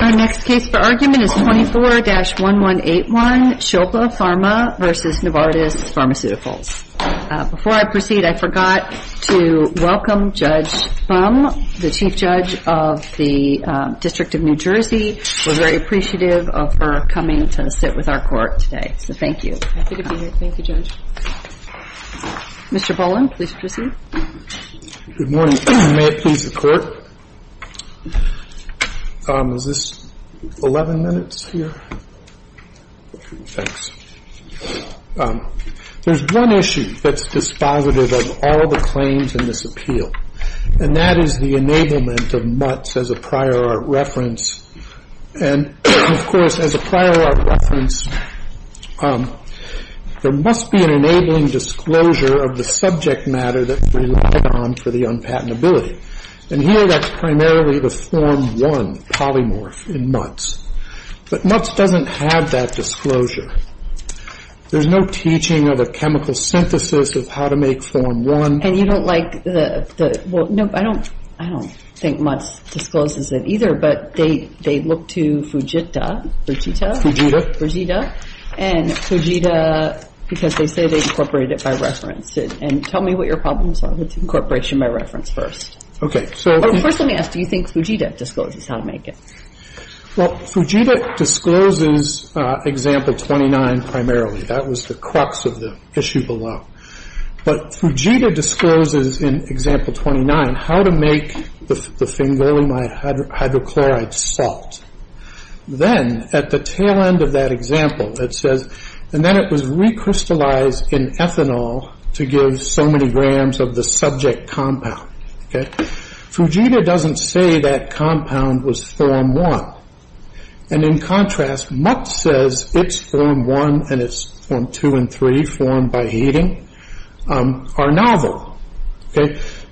Our next case for argument is 24-1181, Shilpa Pharma v. Novartis Pharmaceuticals. Before I proceed, I forgot to welcome Judge Thum, the Chief Judge of the District of New Jersey. We're very appreciative of her coming to sit with our court today, so thank you. Happy to be here. Thank you, Judge. Mr. Boland, please proceed. Good morning. May it please the Court? Is this 11 minutes here? Thanks. There's one issue that's dispositive of all the claims in this appeal, and that is the enablement of MUTs as a prior art reference. And, of course, as a prior art reference, there must be an enabling disclosure of the subject matter that relied on for the unpatentability. And here, that's primarily the Form 1 polymorph in MUTs. But MUTs doesn't have that disclosure. There's no teaching of a chemical synthesis of how to make Form 1. And you don't like the... Well, no, I don't think MUTs discloses it either, but they look to Fujita. Fujita. Fujita. Fujita. And Fujita, because they say they incorporated it by reference. And tell me what your problems are with incorporation by reference first. Okay, so... First, let me ask, do you think Fujita discloses how to make it? Well, Fujita discloses Example 29 primarily. That was the crux of the issue below. But Fujita discloses in Example 29 how to make the fingolimide hydrochloride salt. Then, at the tail end of that example, it says, And then it was recrystallized in ethanol to give so many grams of the subject compound. Fujita doesn't say that compound was Form 1. And in contrast, MUT says it's Form 1 and it's Form 2 and 3, formed by heating, are novel.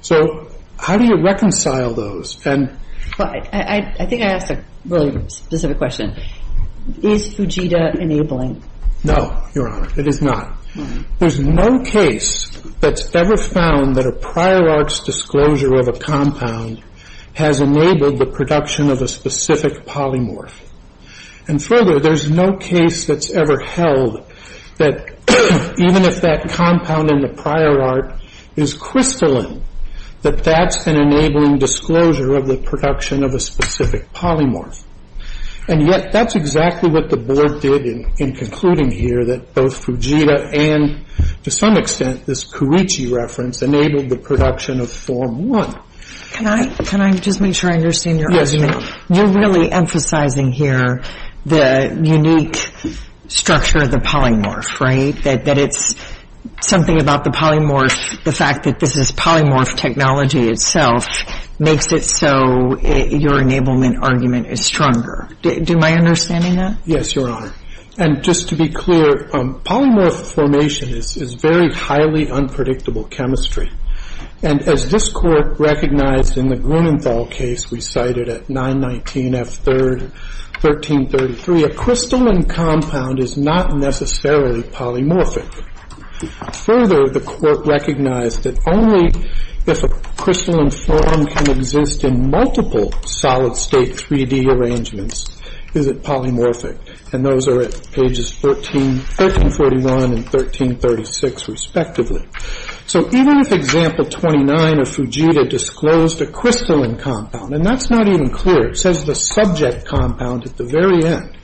So, how do you reconcile those? I think I asked a really specific question. Is Fujita enabling? No, Your Honor, it is not. There's no case that's ever found that a prior art's disclosure of a compound has enabled the production of a specific polymorph. And further, there's no case that's ever held that even if that compound in the prior art is crystalline, that that's an enabling disclosure of the production of a specific polymorph. And yet, that's exactly what the Board did in concluding here, that both Fujita and, to some extent, this Kuruchi reference, enabled the production of Form 1. Can I just make sure I understand your argument? You're really emphasizing here the unique structure of the polymorph, right? That it's something about the polymorph, the fact that this is polymorph technology itself, makes it so your enablement argument is stronger. Am I understanding that? Yes, Your Honor. And just to be clear, polymorph formation is very highly unpredictable chemistry. And as this Court recognized in the Grunenthal case we cited at 919 F3, 1333, a crystalline compound is not necessarily polymorphic. Further, the Court recognized that only if a crystalline form can exist in multiple solid-state 3D arrangements is it polymorphic. And those are at pages 1341 and 1336, respectively. So even if Example 29 of Fujita disclosed a crystalline compound, and that's not even clear, it says the subject compound at the very end,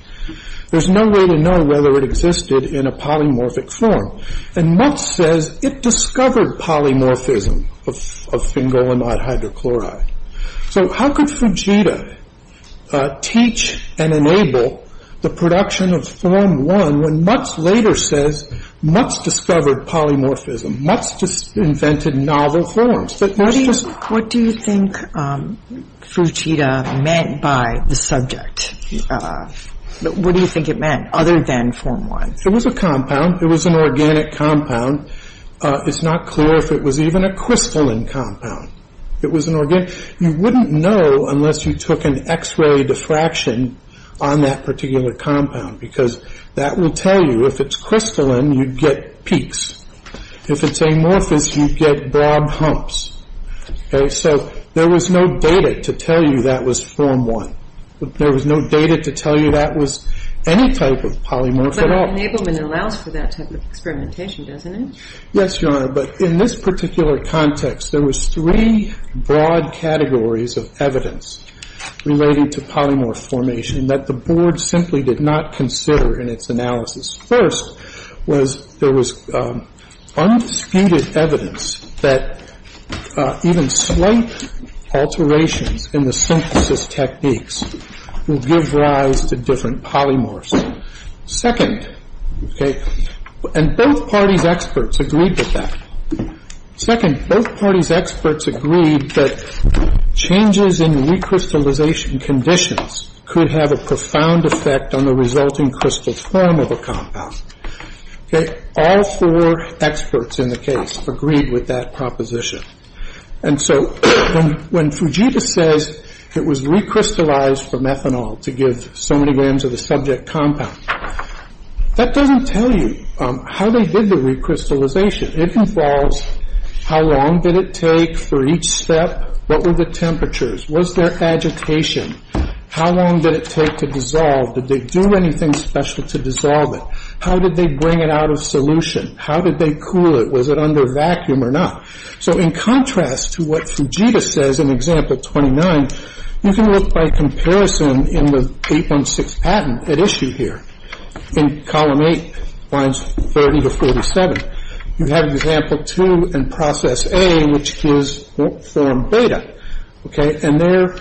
there's no way to know whether it existed in a polymorphic form. And Mutz says it discovered polymorphism of sphingolimide hydrochloride. So how could Fujita teach and enable the production of Form I when Mutz later says Mutz discovered polymorphism, Mutz invented novel forms? What do you think Fujita meant by the subject? What do you think it meant other than Form I? It was a compound. It was an organic compound. It's not clear if it was even a crystalline compound. You wouldn't know unless you took an X-ray diffraction on that particular compound, because that will tell you if it's crystalline, you'd get peaks. If it's amorphous, you'd get broad humps. So there was no data to tell you that was Form I. There was no data to tell you that was any type of polymorph at all. But enablement allows for that type of experimentation, doesn't it? Yes, Your Honor, but in this particular context, there was three broad categories of evidence related to polymorph formation that the Board simply did not consider in its analysis. First was there was undisputed evidence that even slight alterations in the synthesis techniques will give rise to different polymorphs. Second, and both parties' experts agreed with that. Second, both parties' experts agreed that changes in recrystallization conditions could have a profound effect on the resulting crystal form of a compound. All four experts in the case agreed with that proposition. And so when Fujita says it was recrystallized for methanol to give so many grams of the subject compound, that doesn't tell you how they did the recrystallization. It involves how long did it take for each step, what were the temperatures, was there agitation, how long did it take to dissolve, did they do anything special to dissolve it, how did they bring it out of solution, how did they cool it, was it under vacuum or not? So in contrast to what Fujita says in Example 29, you can look by comparison in the 816 patent at issue here, in Column 8, Lines 30 to 47. You have Example 2 in Process A, which gives form beta. And there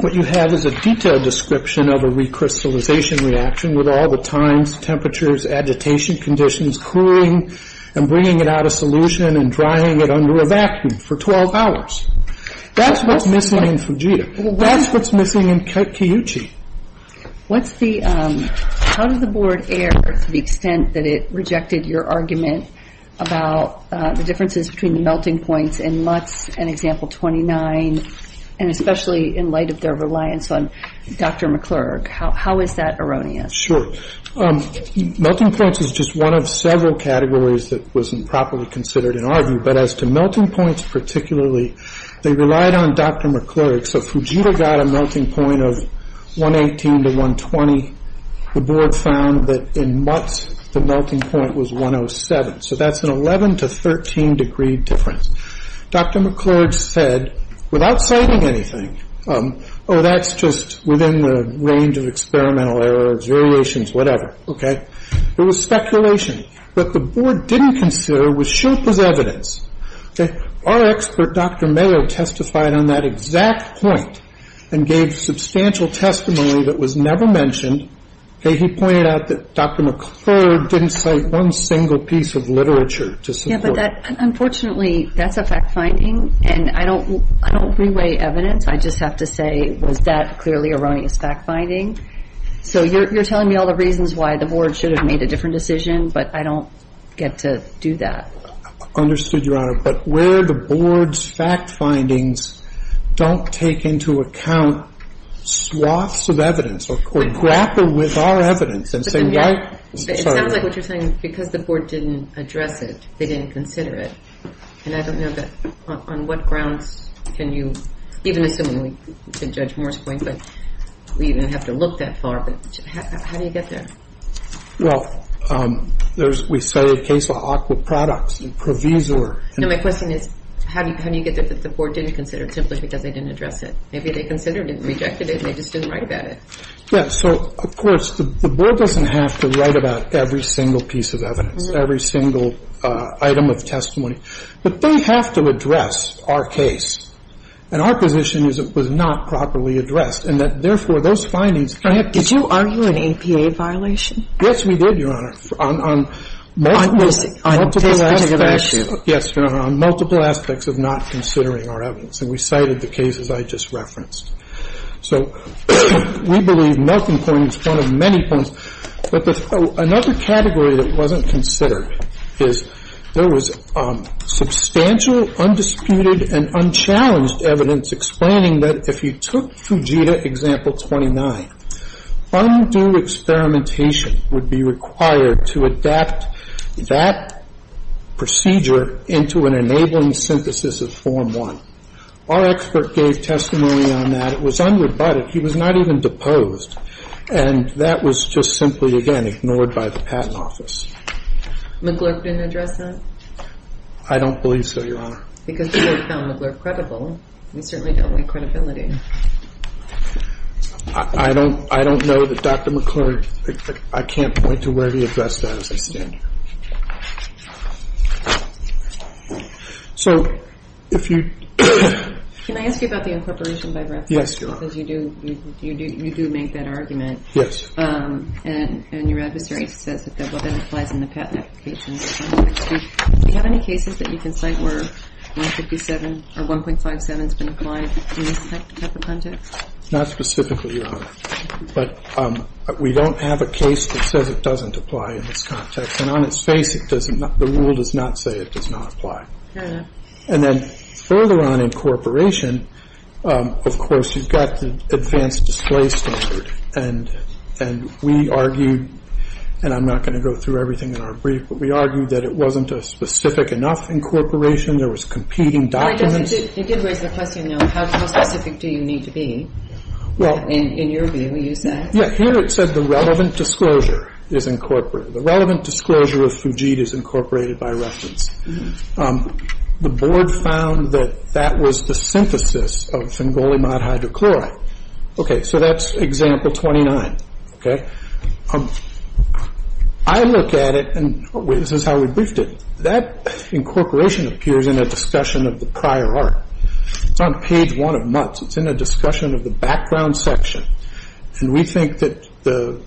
what you have is a detailed description of a recrystallization reaction with all the times, temperatures, agitation conditions, cooling and bringing it out of solution and drying it under a vacuum for 12 hours. That's what's missing in Fujita. That's what's missing in Kiyuchi. How did the board err to the extent that it rejected your argument about the differences between the melting points in Mutz and Example 29, and especially in light of their reliance on Dr. McClurg? How is that erroneous? Sure. Melting points is just one of several categories that wasn't properly considered in our view. But as to melting points particularly, they relied on Dr. McClurg. So Fujita got a melting point of 118 to 120. Unfortunately, the board found that in Mutz, the melting point was 107. So that's an 11 to 13 degree difference. Dr. McClurg said, without citing anything, oh, that's just within the range of experimental errors, variations, whatever. It was speculation. What the board didn't consider was Sherpa's evidence. Our expert, Dr. Mayo, testified on that exact point and gave substantial testimony that was never mentioned. He pointed out that Dr. McClurg didn't cite one single piece of literature to support it. Unfortunately, that's a fact-finding, and I don't reweigh evidence. I just have to say, was that clearly erroneous fact-finding? So you're telling me all the reasons why the board should have made a different decision, but I don't get to do that. Understood, Your Honor. But where the board's fact-findings don't take into account swaths of evidence or grapple with our evidence and say, right... It sounds like what you're saying, because the board didn't address it, they didn't consider it. And I don't know that, on what grounds can you, even assuming, to Judge Moore's point, that we even have to look that far, but how do you get there? Well, there's... We say a case of aqua products and provisor... No, my question is, how do you get that the board didn't consider it simply because they didn't address it? Maybe they considered it and rejected it, and they just didn't write about it. Yeah, so, of course, the board doesn't have to write about every single piece of evidence, every single item of testimony. But they have to address our case. And our position is it was not properly addressed, and that, therefore, those findings... Did you argue an APA violation? Yes, we did, Your Honor. On multiple aspects of not considering our evidence. And we cited the cases I just referenced. So we believe Milton's point is one of many points. But another category that wasn't considered is, there was substantial, undisputed, and unchallenged evidence explaining that if you took Fujita Example 29, undue experimentation would be required to adapt that procedure into an enabling synthesis of Form 1. Our expert gave testimony on that. It was unrebutted. He was not even deposed. And that was just simply, again, ignored by the Patent Office. McGlurk didn't address that? I don't believe so, Your Honor. Because the board found McGlurk credible. We certainly don't like credibility. I don't know that Dr. McGlurk... I can't point to where he addressed that as I stand here. So, if you... Can I ask you about the incorporation by reference? Yes, Your Honor. Because you do make that argument. Yes. And your adversary says that that applies in the patent application. Do you have any cases that you can cite where 1.57 has been applied in this type of context? Not specifically, Your Honor. But we don't have a case that says it doesn't apply in this context. And on its face, the rule does not say it does not apply. Fair enough. And then, further on incorporation, of course, you've got the advanced display standard. And we argue, and I'm not going to go through everything in our brief, but we argue that it wasn't a specific enough incorporation. There was competing documents. It did raise the question, though, how specific do you need to be in your view, you said. Yeah, here it said the relevant disclosure is incorporated. The relevant disclosure of Fujit is incorporated by reference. The board found that that was the synthesis of Fingoli mod hydrochloride. Okay, so that's example 29. Okay, I look at it, and this is how we briefed it. That incorporation appears in a discussion of the prior art. It's on page one of Mutz. It's in a discussion of the background section. And we think that the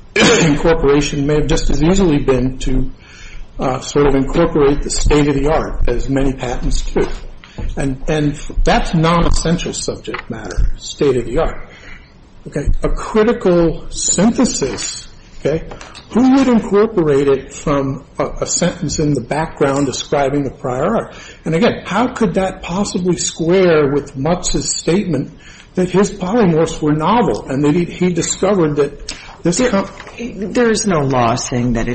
incorporation may have just as easily been to sort of incorporate the state-of-the-art as many patents do. And that's non-essential subject matter, state-of-the-art. Okay, a critical synthesis, okay. Who would incorporate it from a sentence in the background describing the prior art? And again, how could that possibly square with Mutz's statement that his polymorphs were novel and that he discovered that this... There is no law saying that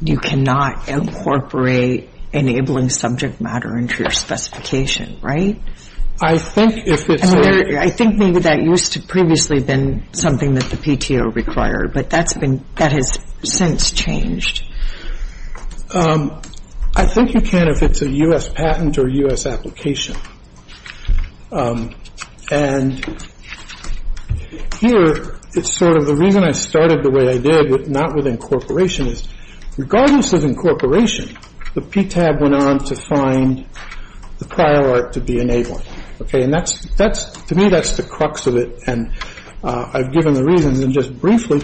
you cannot incorporate enabling subject matter into your specification, right? I think if it's... I think maybe that used to previously been something that the PTO required, but that has since changed. I think you can if it's a U.S. patent or U.S. application. And here, it's sort of the reason I started the way I did, not with incorporation, is regardless of incorporation, the PTAB went on to find the prior art to be enabling. Okay, and to me, that's the crux of it, and I've given the reasons, and just briefly,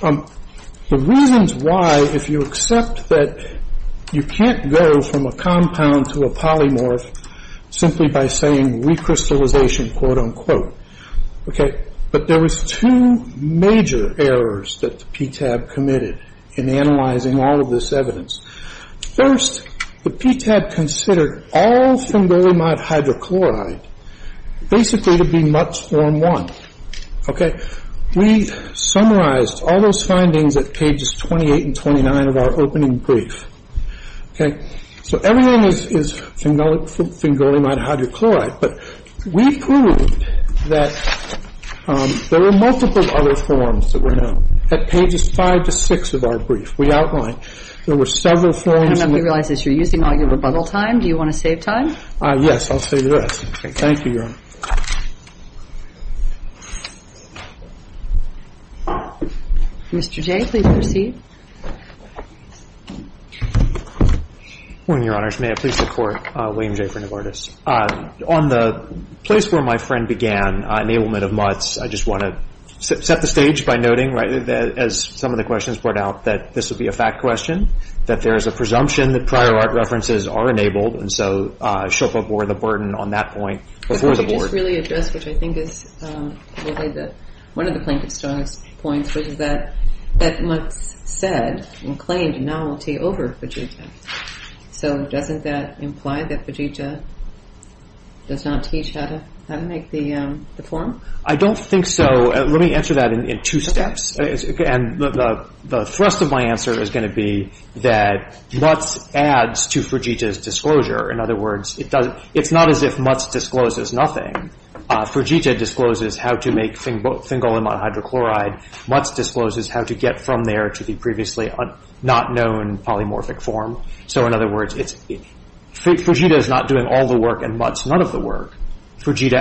the reasons why if you accept that you can't go from a compound to a polymorph simply by saying recrystallization, quote-unquote, okay, but there was two major errors that the PTAB committed in analyzing all of this evidence. First, the PTAB considered all fengolimide hydrochloride basically to be much form one, okay? We summarized all those findings at pages 28 and 29 of our opening brief, okay? So everything is fengolimide hydrochloride, but we proved that there were multiple other forms that were known at pages five to six of our brief. We outlined there were several forms... I don't know if you realize this. You're using all your rebuttal time. Do you want to save time? Yes, I'll save the rest. Okay. Thank you, Your Honor. Mr. Jay, please proceed. Good morning, Your Honors. May I please support William J. Friend of Artists? On the place where my friend began, enablement of MUTs, I just want to set the stage by noting, right, as some of the questions point out, that this would be a fact question, that there is a presumption that prior art references are enabled, and so Shilpa bore the burden on that point before the board. Could you just really address what I think is one of the plaintiff's strongest points, which is that MUTs said and claimed a novelty over Fujita. So doesn't that imply that Fujita does not teach how to make the form? I don't think so. Let me answer that in two steps. The thrust of my answer is going to be that MUTs adds to Fujita's disclosure. In other words, it's not as if MUTs discloses nothing. Fujita discloses how to make fingolimide hydrochloride. MUTs discloses how to get from there to the previously not known polymorphic form. So in other words, Fujita is not doing all the work and MUTs none of the work. Fujita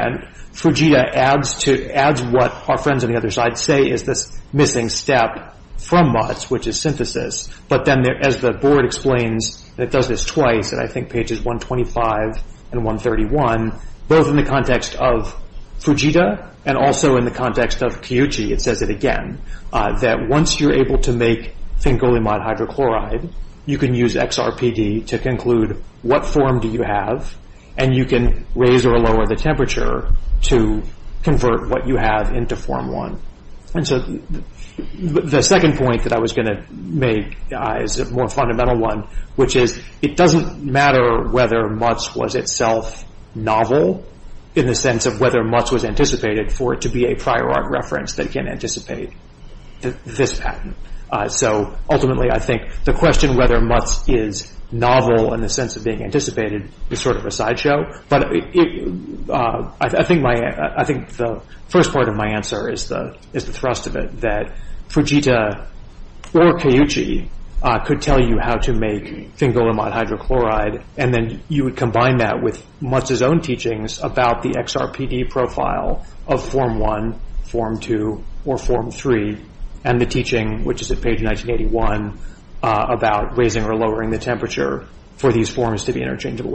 adds what our friends on the other side say is this missing step from MUTs, which is synthesis, but then as the board explains, it does this twice, and I think pages 125 and 131, both in the context of Fujita and also in the context of Kiyuchi, it says it again, that once you're able to make fingolimide hydrochloride, you can use XRPD to conclude what form do you have, and you can raise or lower the temperature to convert what you have into form one. The second point that I was going to make is a more fundamental one, which is it doesn't matter whether MUTs was itself novel in the sense of whether MUTs was anticipated for it to be a prior art reference that can anticipate this patent. So ultimately I think the question whether MUTs is novel in the sense of being anticipated is sort of a sideshow, but I think the first part of my answer is the thrust of it, that Fujita or Kiyuchi could tell you how to make fingolimide hydrochloride, and then you would combine that with MUTs' own teachings about the XRPD profile of form one, form two, or form three, and the teaching, which is at page 1981, about raising or lowering the temperature for these forms to be interchangeable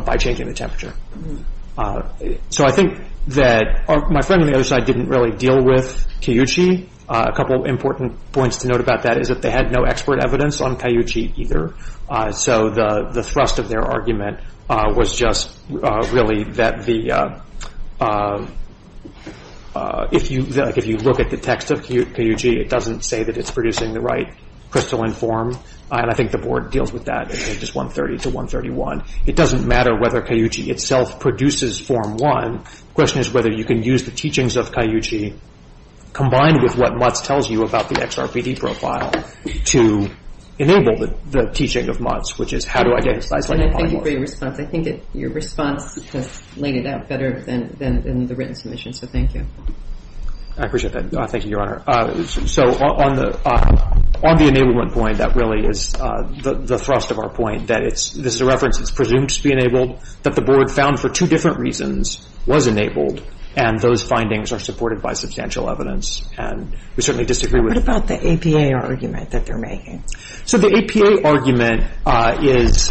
by changing the temperature. So I think that my friend on the other side didn't really deal with Kiyuchi. A couple important points to note about that is that they had no expert evidence on Kiyuchi either, so the thrust of their argument was just really that the if you look at the text of Kiyuchi, it doesn't say that it's producing the right crystalline form, and I think the board deals with that in pages 130 to 131. It doesn't matter whether Kiyuchi itself produces form one, the question is whether you can use the teachings of Kiyuchi combined with what MUTs tells you about the XRPD profile to enable the teaching of MUTs, which is how to identify fling polymorphs. I think your response laid it out better than the written submission, so thank you. I appreciate that. Thank you, Your Honor. So on the enablement point, that really is the thrust of our point, that this is a reference that's presumed to be enabled, that the board found for two different reasons was enabled, and those findings are supported by substantial evidence, and we certainly disagree with that. What about the APA argument that they're making? So the APA argument is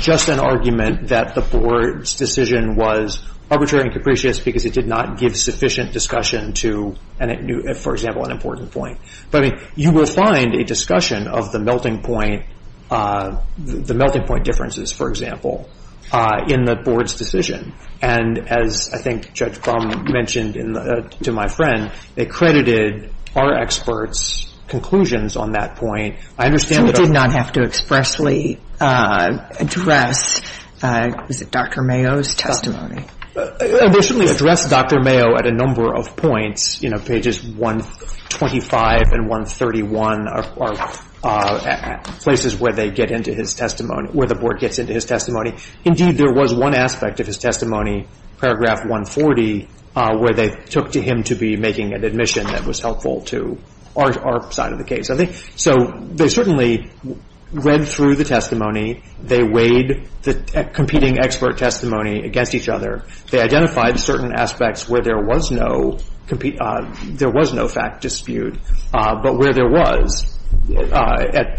just an argument that the board's decision was arbitrary and capricious because it did not give sufficient discussion to, for example, an important point. You will find a discussion of the melting point differences, for example, in the board's decision, and as I think Judge Baum mentioned to my friend, they credited our experts' conclusions on that point. They certainly did not have to expressly address Dr. Mayo's testimony. They certainly addressed Dr. Mayo at a number of points. Pages 125 and 131 are places where the board gets into his testimony. Indeed, there was one aspect of his testimony, paragraph 140, where they took to him to be making an admission that was helpful to our side of the case. So they certainly read through the testimony. They weighed the competing expert testimony against each other. They identified certain aspects where there was no fact dispute, but where there was, I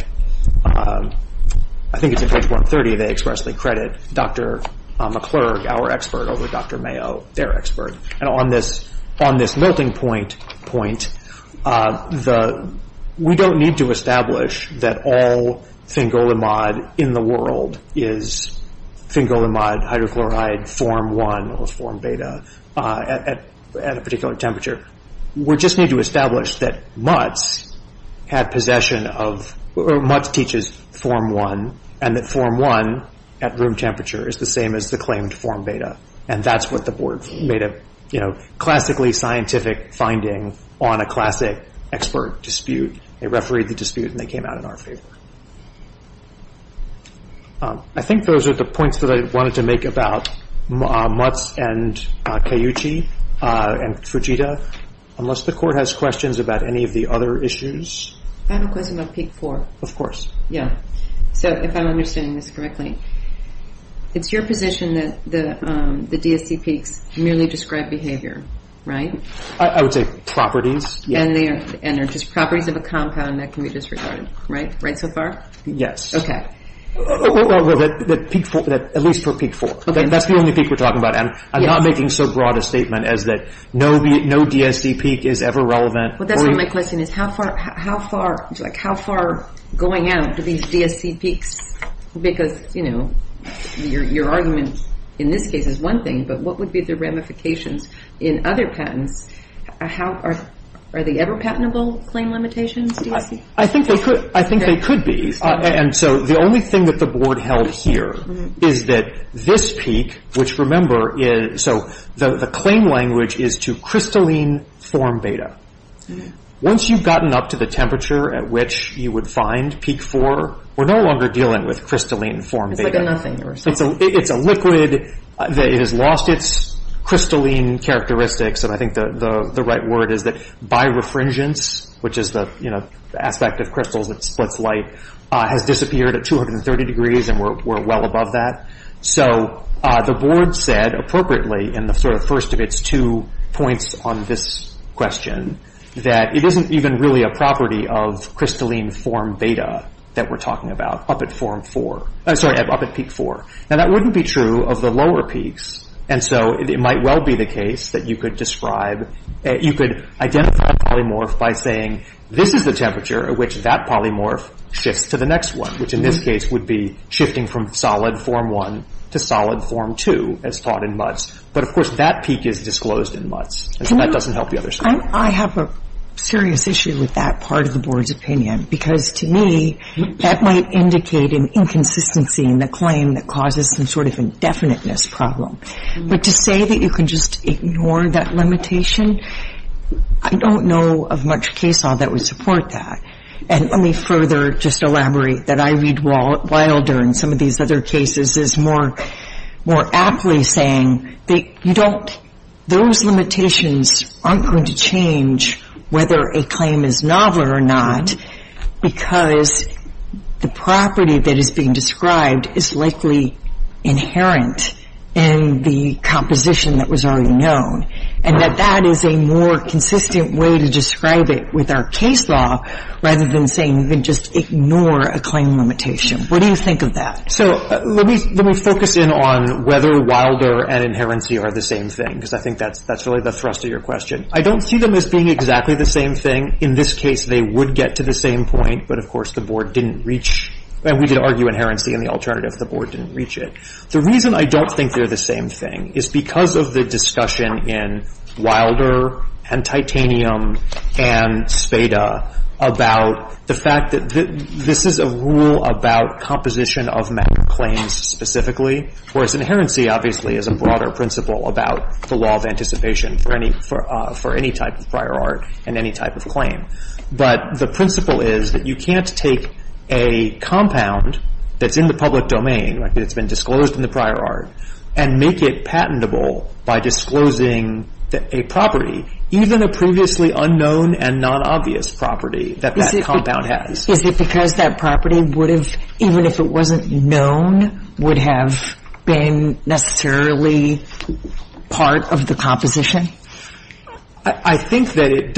think it's in page 130, they expressly credit Dr. McClurg, our expert, over Dr. Mayo, their expert. And on this melting point point, we don't need to establish that all thingolimod in the world is thingolimod hydrochloride form 1 or form beta at a particular temperature. We just need to establish that Mutz had possession of, or Mutz teaches form 1, and that form 1 at room temperature is the same as the claimed form beta. And that's what the board made a classically scientific finding on a classic expert dispute. They refereed the dispute, and they came out in our favor. I think those are the points that I wanted to make about Mutz and Keiichi and Fujita. Unless the court has questions about any of the other issues? I have a question about peak 4. Of course. So if I'm understanding this correctly, it's your position that the DSD peaks merely describe behavior, right? I would say properties. And they're just properties of a compound that can be disregarded, right? Right so far? Yes. Okay. At least for peak 4. That's the only peak we're talking about, and I'm not making so broad a statement as that no DSD peak is ever relevant. That's not my question. How far going out do these DSD peaks, because your argument in this case is one thing, but what would be the ramifications in other patents? Are they ever patentable claim limitations? I think they could be. And so the only thing that the board held here is that this peak, which remember, so the claim language is to crystalline form beta. Once you've gotten up to the temperature at which you would find peak 4, we're no longer dealing with crystalline form beta. It's like a nothing. It's a liquid that has lost its crystalline characteristics, and I think the right word is that birefringence, which is the aspect of crystals that splits light, has disappeared at 230 degrees, and we're well above that. So the board said appropriately in the first of its two points on this question that it isn't even really a property of crystalline form beta that we're talking about up at peak 4. Now that wouldn't be true of the lower peaks, and so it might well be the case that you could describe, you could identify a polymorph by saying, this is the temperature at which that polymorph shifts to the next one, which in this case would be shifting from solid form 1 to solid form 2, as taught in Mutz. But of course that peak is disclosed in Mutz, and so that doesn't help the other side. I have a serious issue with that part of the board's opinion, because to me that might indicate an inconsistency in the claim that causes some sort of indefiniteness problem. But to say that you can just ignore that limitation, I don't know of much case law that would support that. And let me further just elaborate that I read Wilder and some of these other cases as more aptly saying that those limitations aren't going to change whether a claim is novel or not, because the property that is being described is likely inherent in the composition that was already known. And that that is a more consistent way to describe it with our case law rather than saying you can just ignore a claim limitation. What do you think of that? So let me focus in on whether Wilder and Inherency are the same thing, because I think that's really the thrust of your question. I don't see them as being exactly the same thing. In this case they would get to the same point, but of course the board didn't reach, and we did argue Inherency in the alternative, the board didn't reach it. The reason I don't think they're the same thing is because of the discussion in Wilder and Titanium and Spada about the fact that this is a rule about composition of matter claims specifically, whereas Inherency obviously is a broader principle about the law of anticipation for any type of prior art and any type of claim. But the principle is that you can't take a compound that's in the public domain, that's been disclosed in the prior art, and make it patentable by disclosing a property, even a previously unknown and non-obvious property that that compound has. Is it because that property would have, even if it wasn't known, would have been necessarily part of the composition? I think that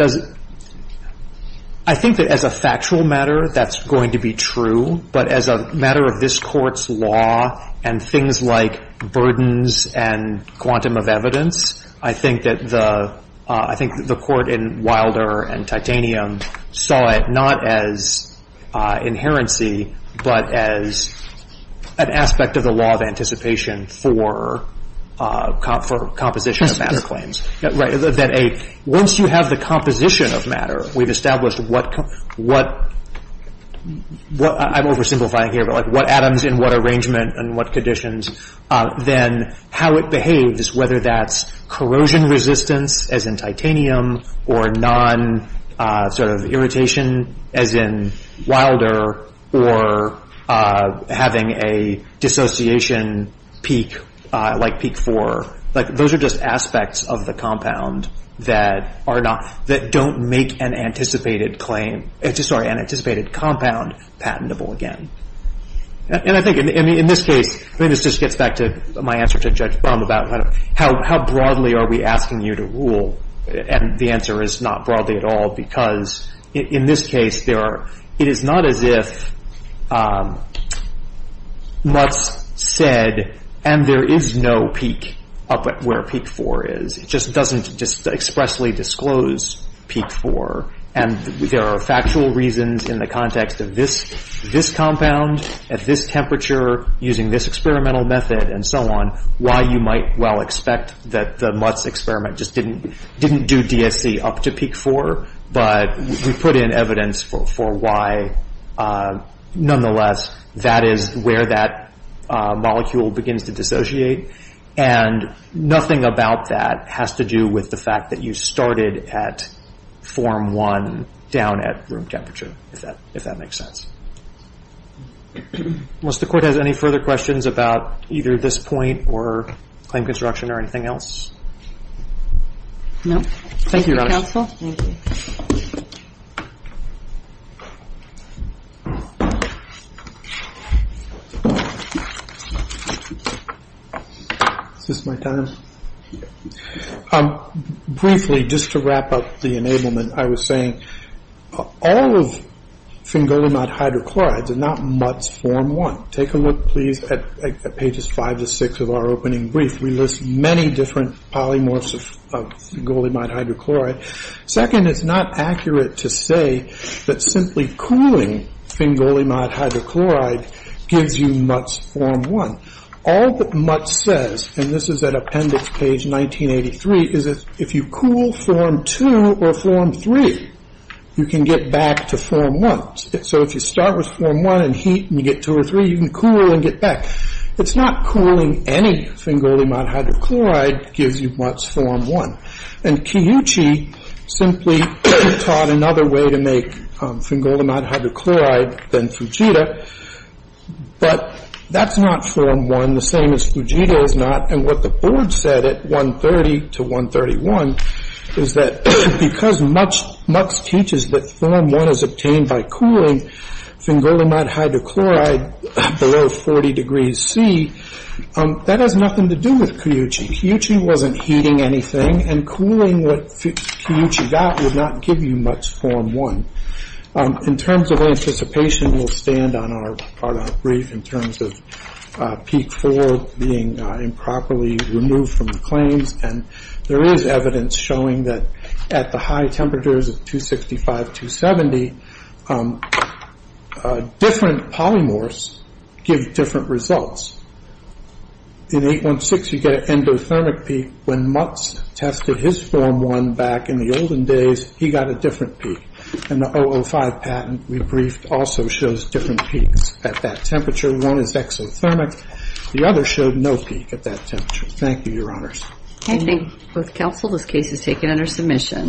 as a factual matter that's going to be true, but as a matter of this Court's law and things like burdens and quantum of evidence, I think that the Court in Wilder and Titanium saw it not as Inherency, but as an aspect of the law of anticipation for composition of matter claims. Once you have the composition of matter, we've established what, I'm oversimplifying here, but what atoms in what arrangement and what conditions, then how it behaves, whether that's corrosion resistance, as in Titanium, or non-irritation, as in Wilder, or having a dissociation peak like Peak 4. Those are just aspects of the compound that don't make an anticipated compound patentable again. And I think in this case, this just gets back to my answer to Judge Brum about how broadly are we asking you to rule? And the answer is not broadly at all, because in this case, it is not as if Mutz said, and there is no peak up at where Peak 4 is, it just doesn't expressly disclose Peak 4, and there are factual reasons in the context of this compound, at this temperature, using this experimental method, and so on, why you might well expect that the Mutz experiment just didn't do DSC up to Peak 4, but we put in evidence for why, nonetheless, that is where that molecule begins to dissociate, and nothing about that has to do with the fact that you started at Form 1 down at room temperature, if that makes sense. Unless the Court has any further questions about either this point, or claim construction, or anything else? No. Thank you, Your Honor. Thank you, Counsel. Is this my time? Briefly, just to wrap up the enablement, I was saying all of Fingolimod hydrochlorides are not Mutz Form 1. Take a look, please, at pages 5 to 6 of our opening brief. We list many different polymorphs of Fingolimod hydrochloride. Second, it's not accurate to say that simply cooling Fingolimod hydrochloride gives you Mutz Form 1. All that Mutz says, and this is at Appendix Page 1983, is that if you cool Form 2 or Form 3, you can get back to Form 1. So if you start with Form 1 and heat, and you get 2 or 3, you can cool and get back. It's not cooling any Fingolimod hydrochloride that gives you Mutz Form 1. And Kiyuchi simply taught another way to make Fingolimod hydrochloride than Fujita, but that's not Form 1, the same as Fujita is not. And what the board said at 1.30 to 1.31 is that because Mutz teaches that Form 1 is obtained by cooling Fingolimod hydrochloride below 40 degrees C, that has nothing to do with Kiyuchi. Kiyuchi wasn't heating anything, and cooling what Kiyuchi got would not give you Mutz Form 1. In terms of anticipation, we'll stand on our brief in terms of Peak 4 being improperly removed from the claims, and there is evidence showing that at the high temperatures of 265, 270, different polymorphs give different results. In 8.16, you get an endothermic peak. When Mutz tested his Form 1 back in the olden days, he got a different peak. And the 005 patent we briefed also shows different peaks at that temperature. One is exothermic. The other showed no peak at that temperature. Thank you, Your Honors. Thank you. With counsel, this case is taken under submission.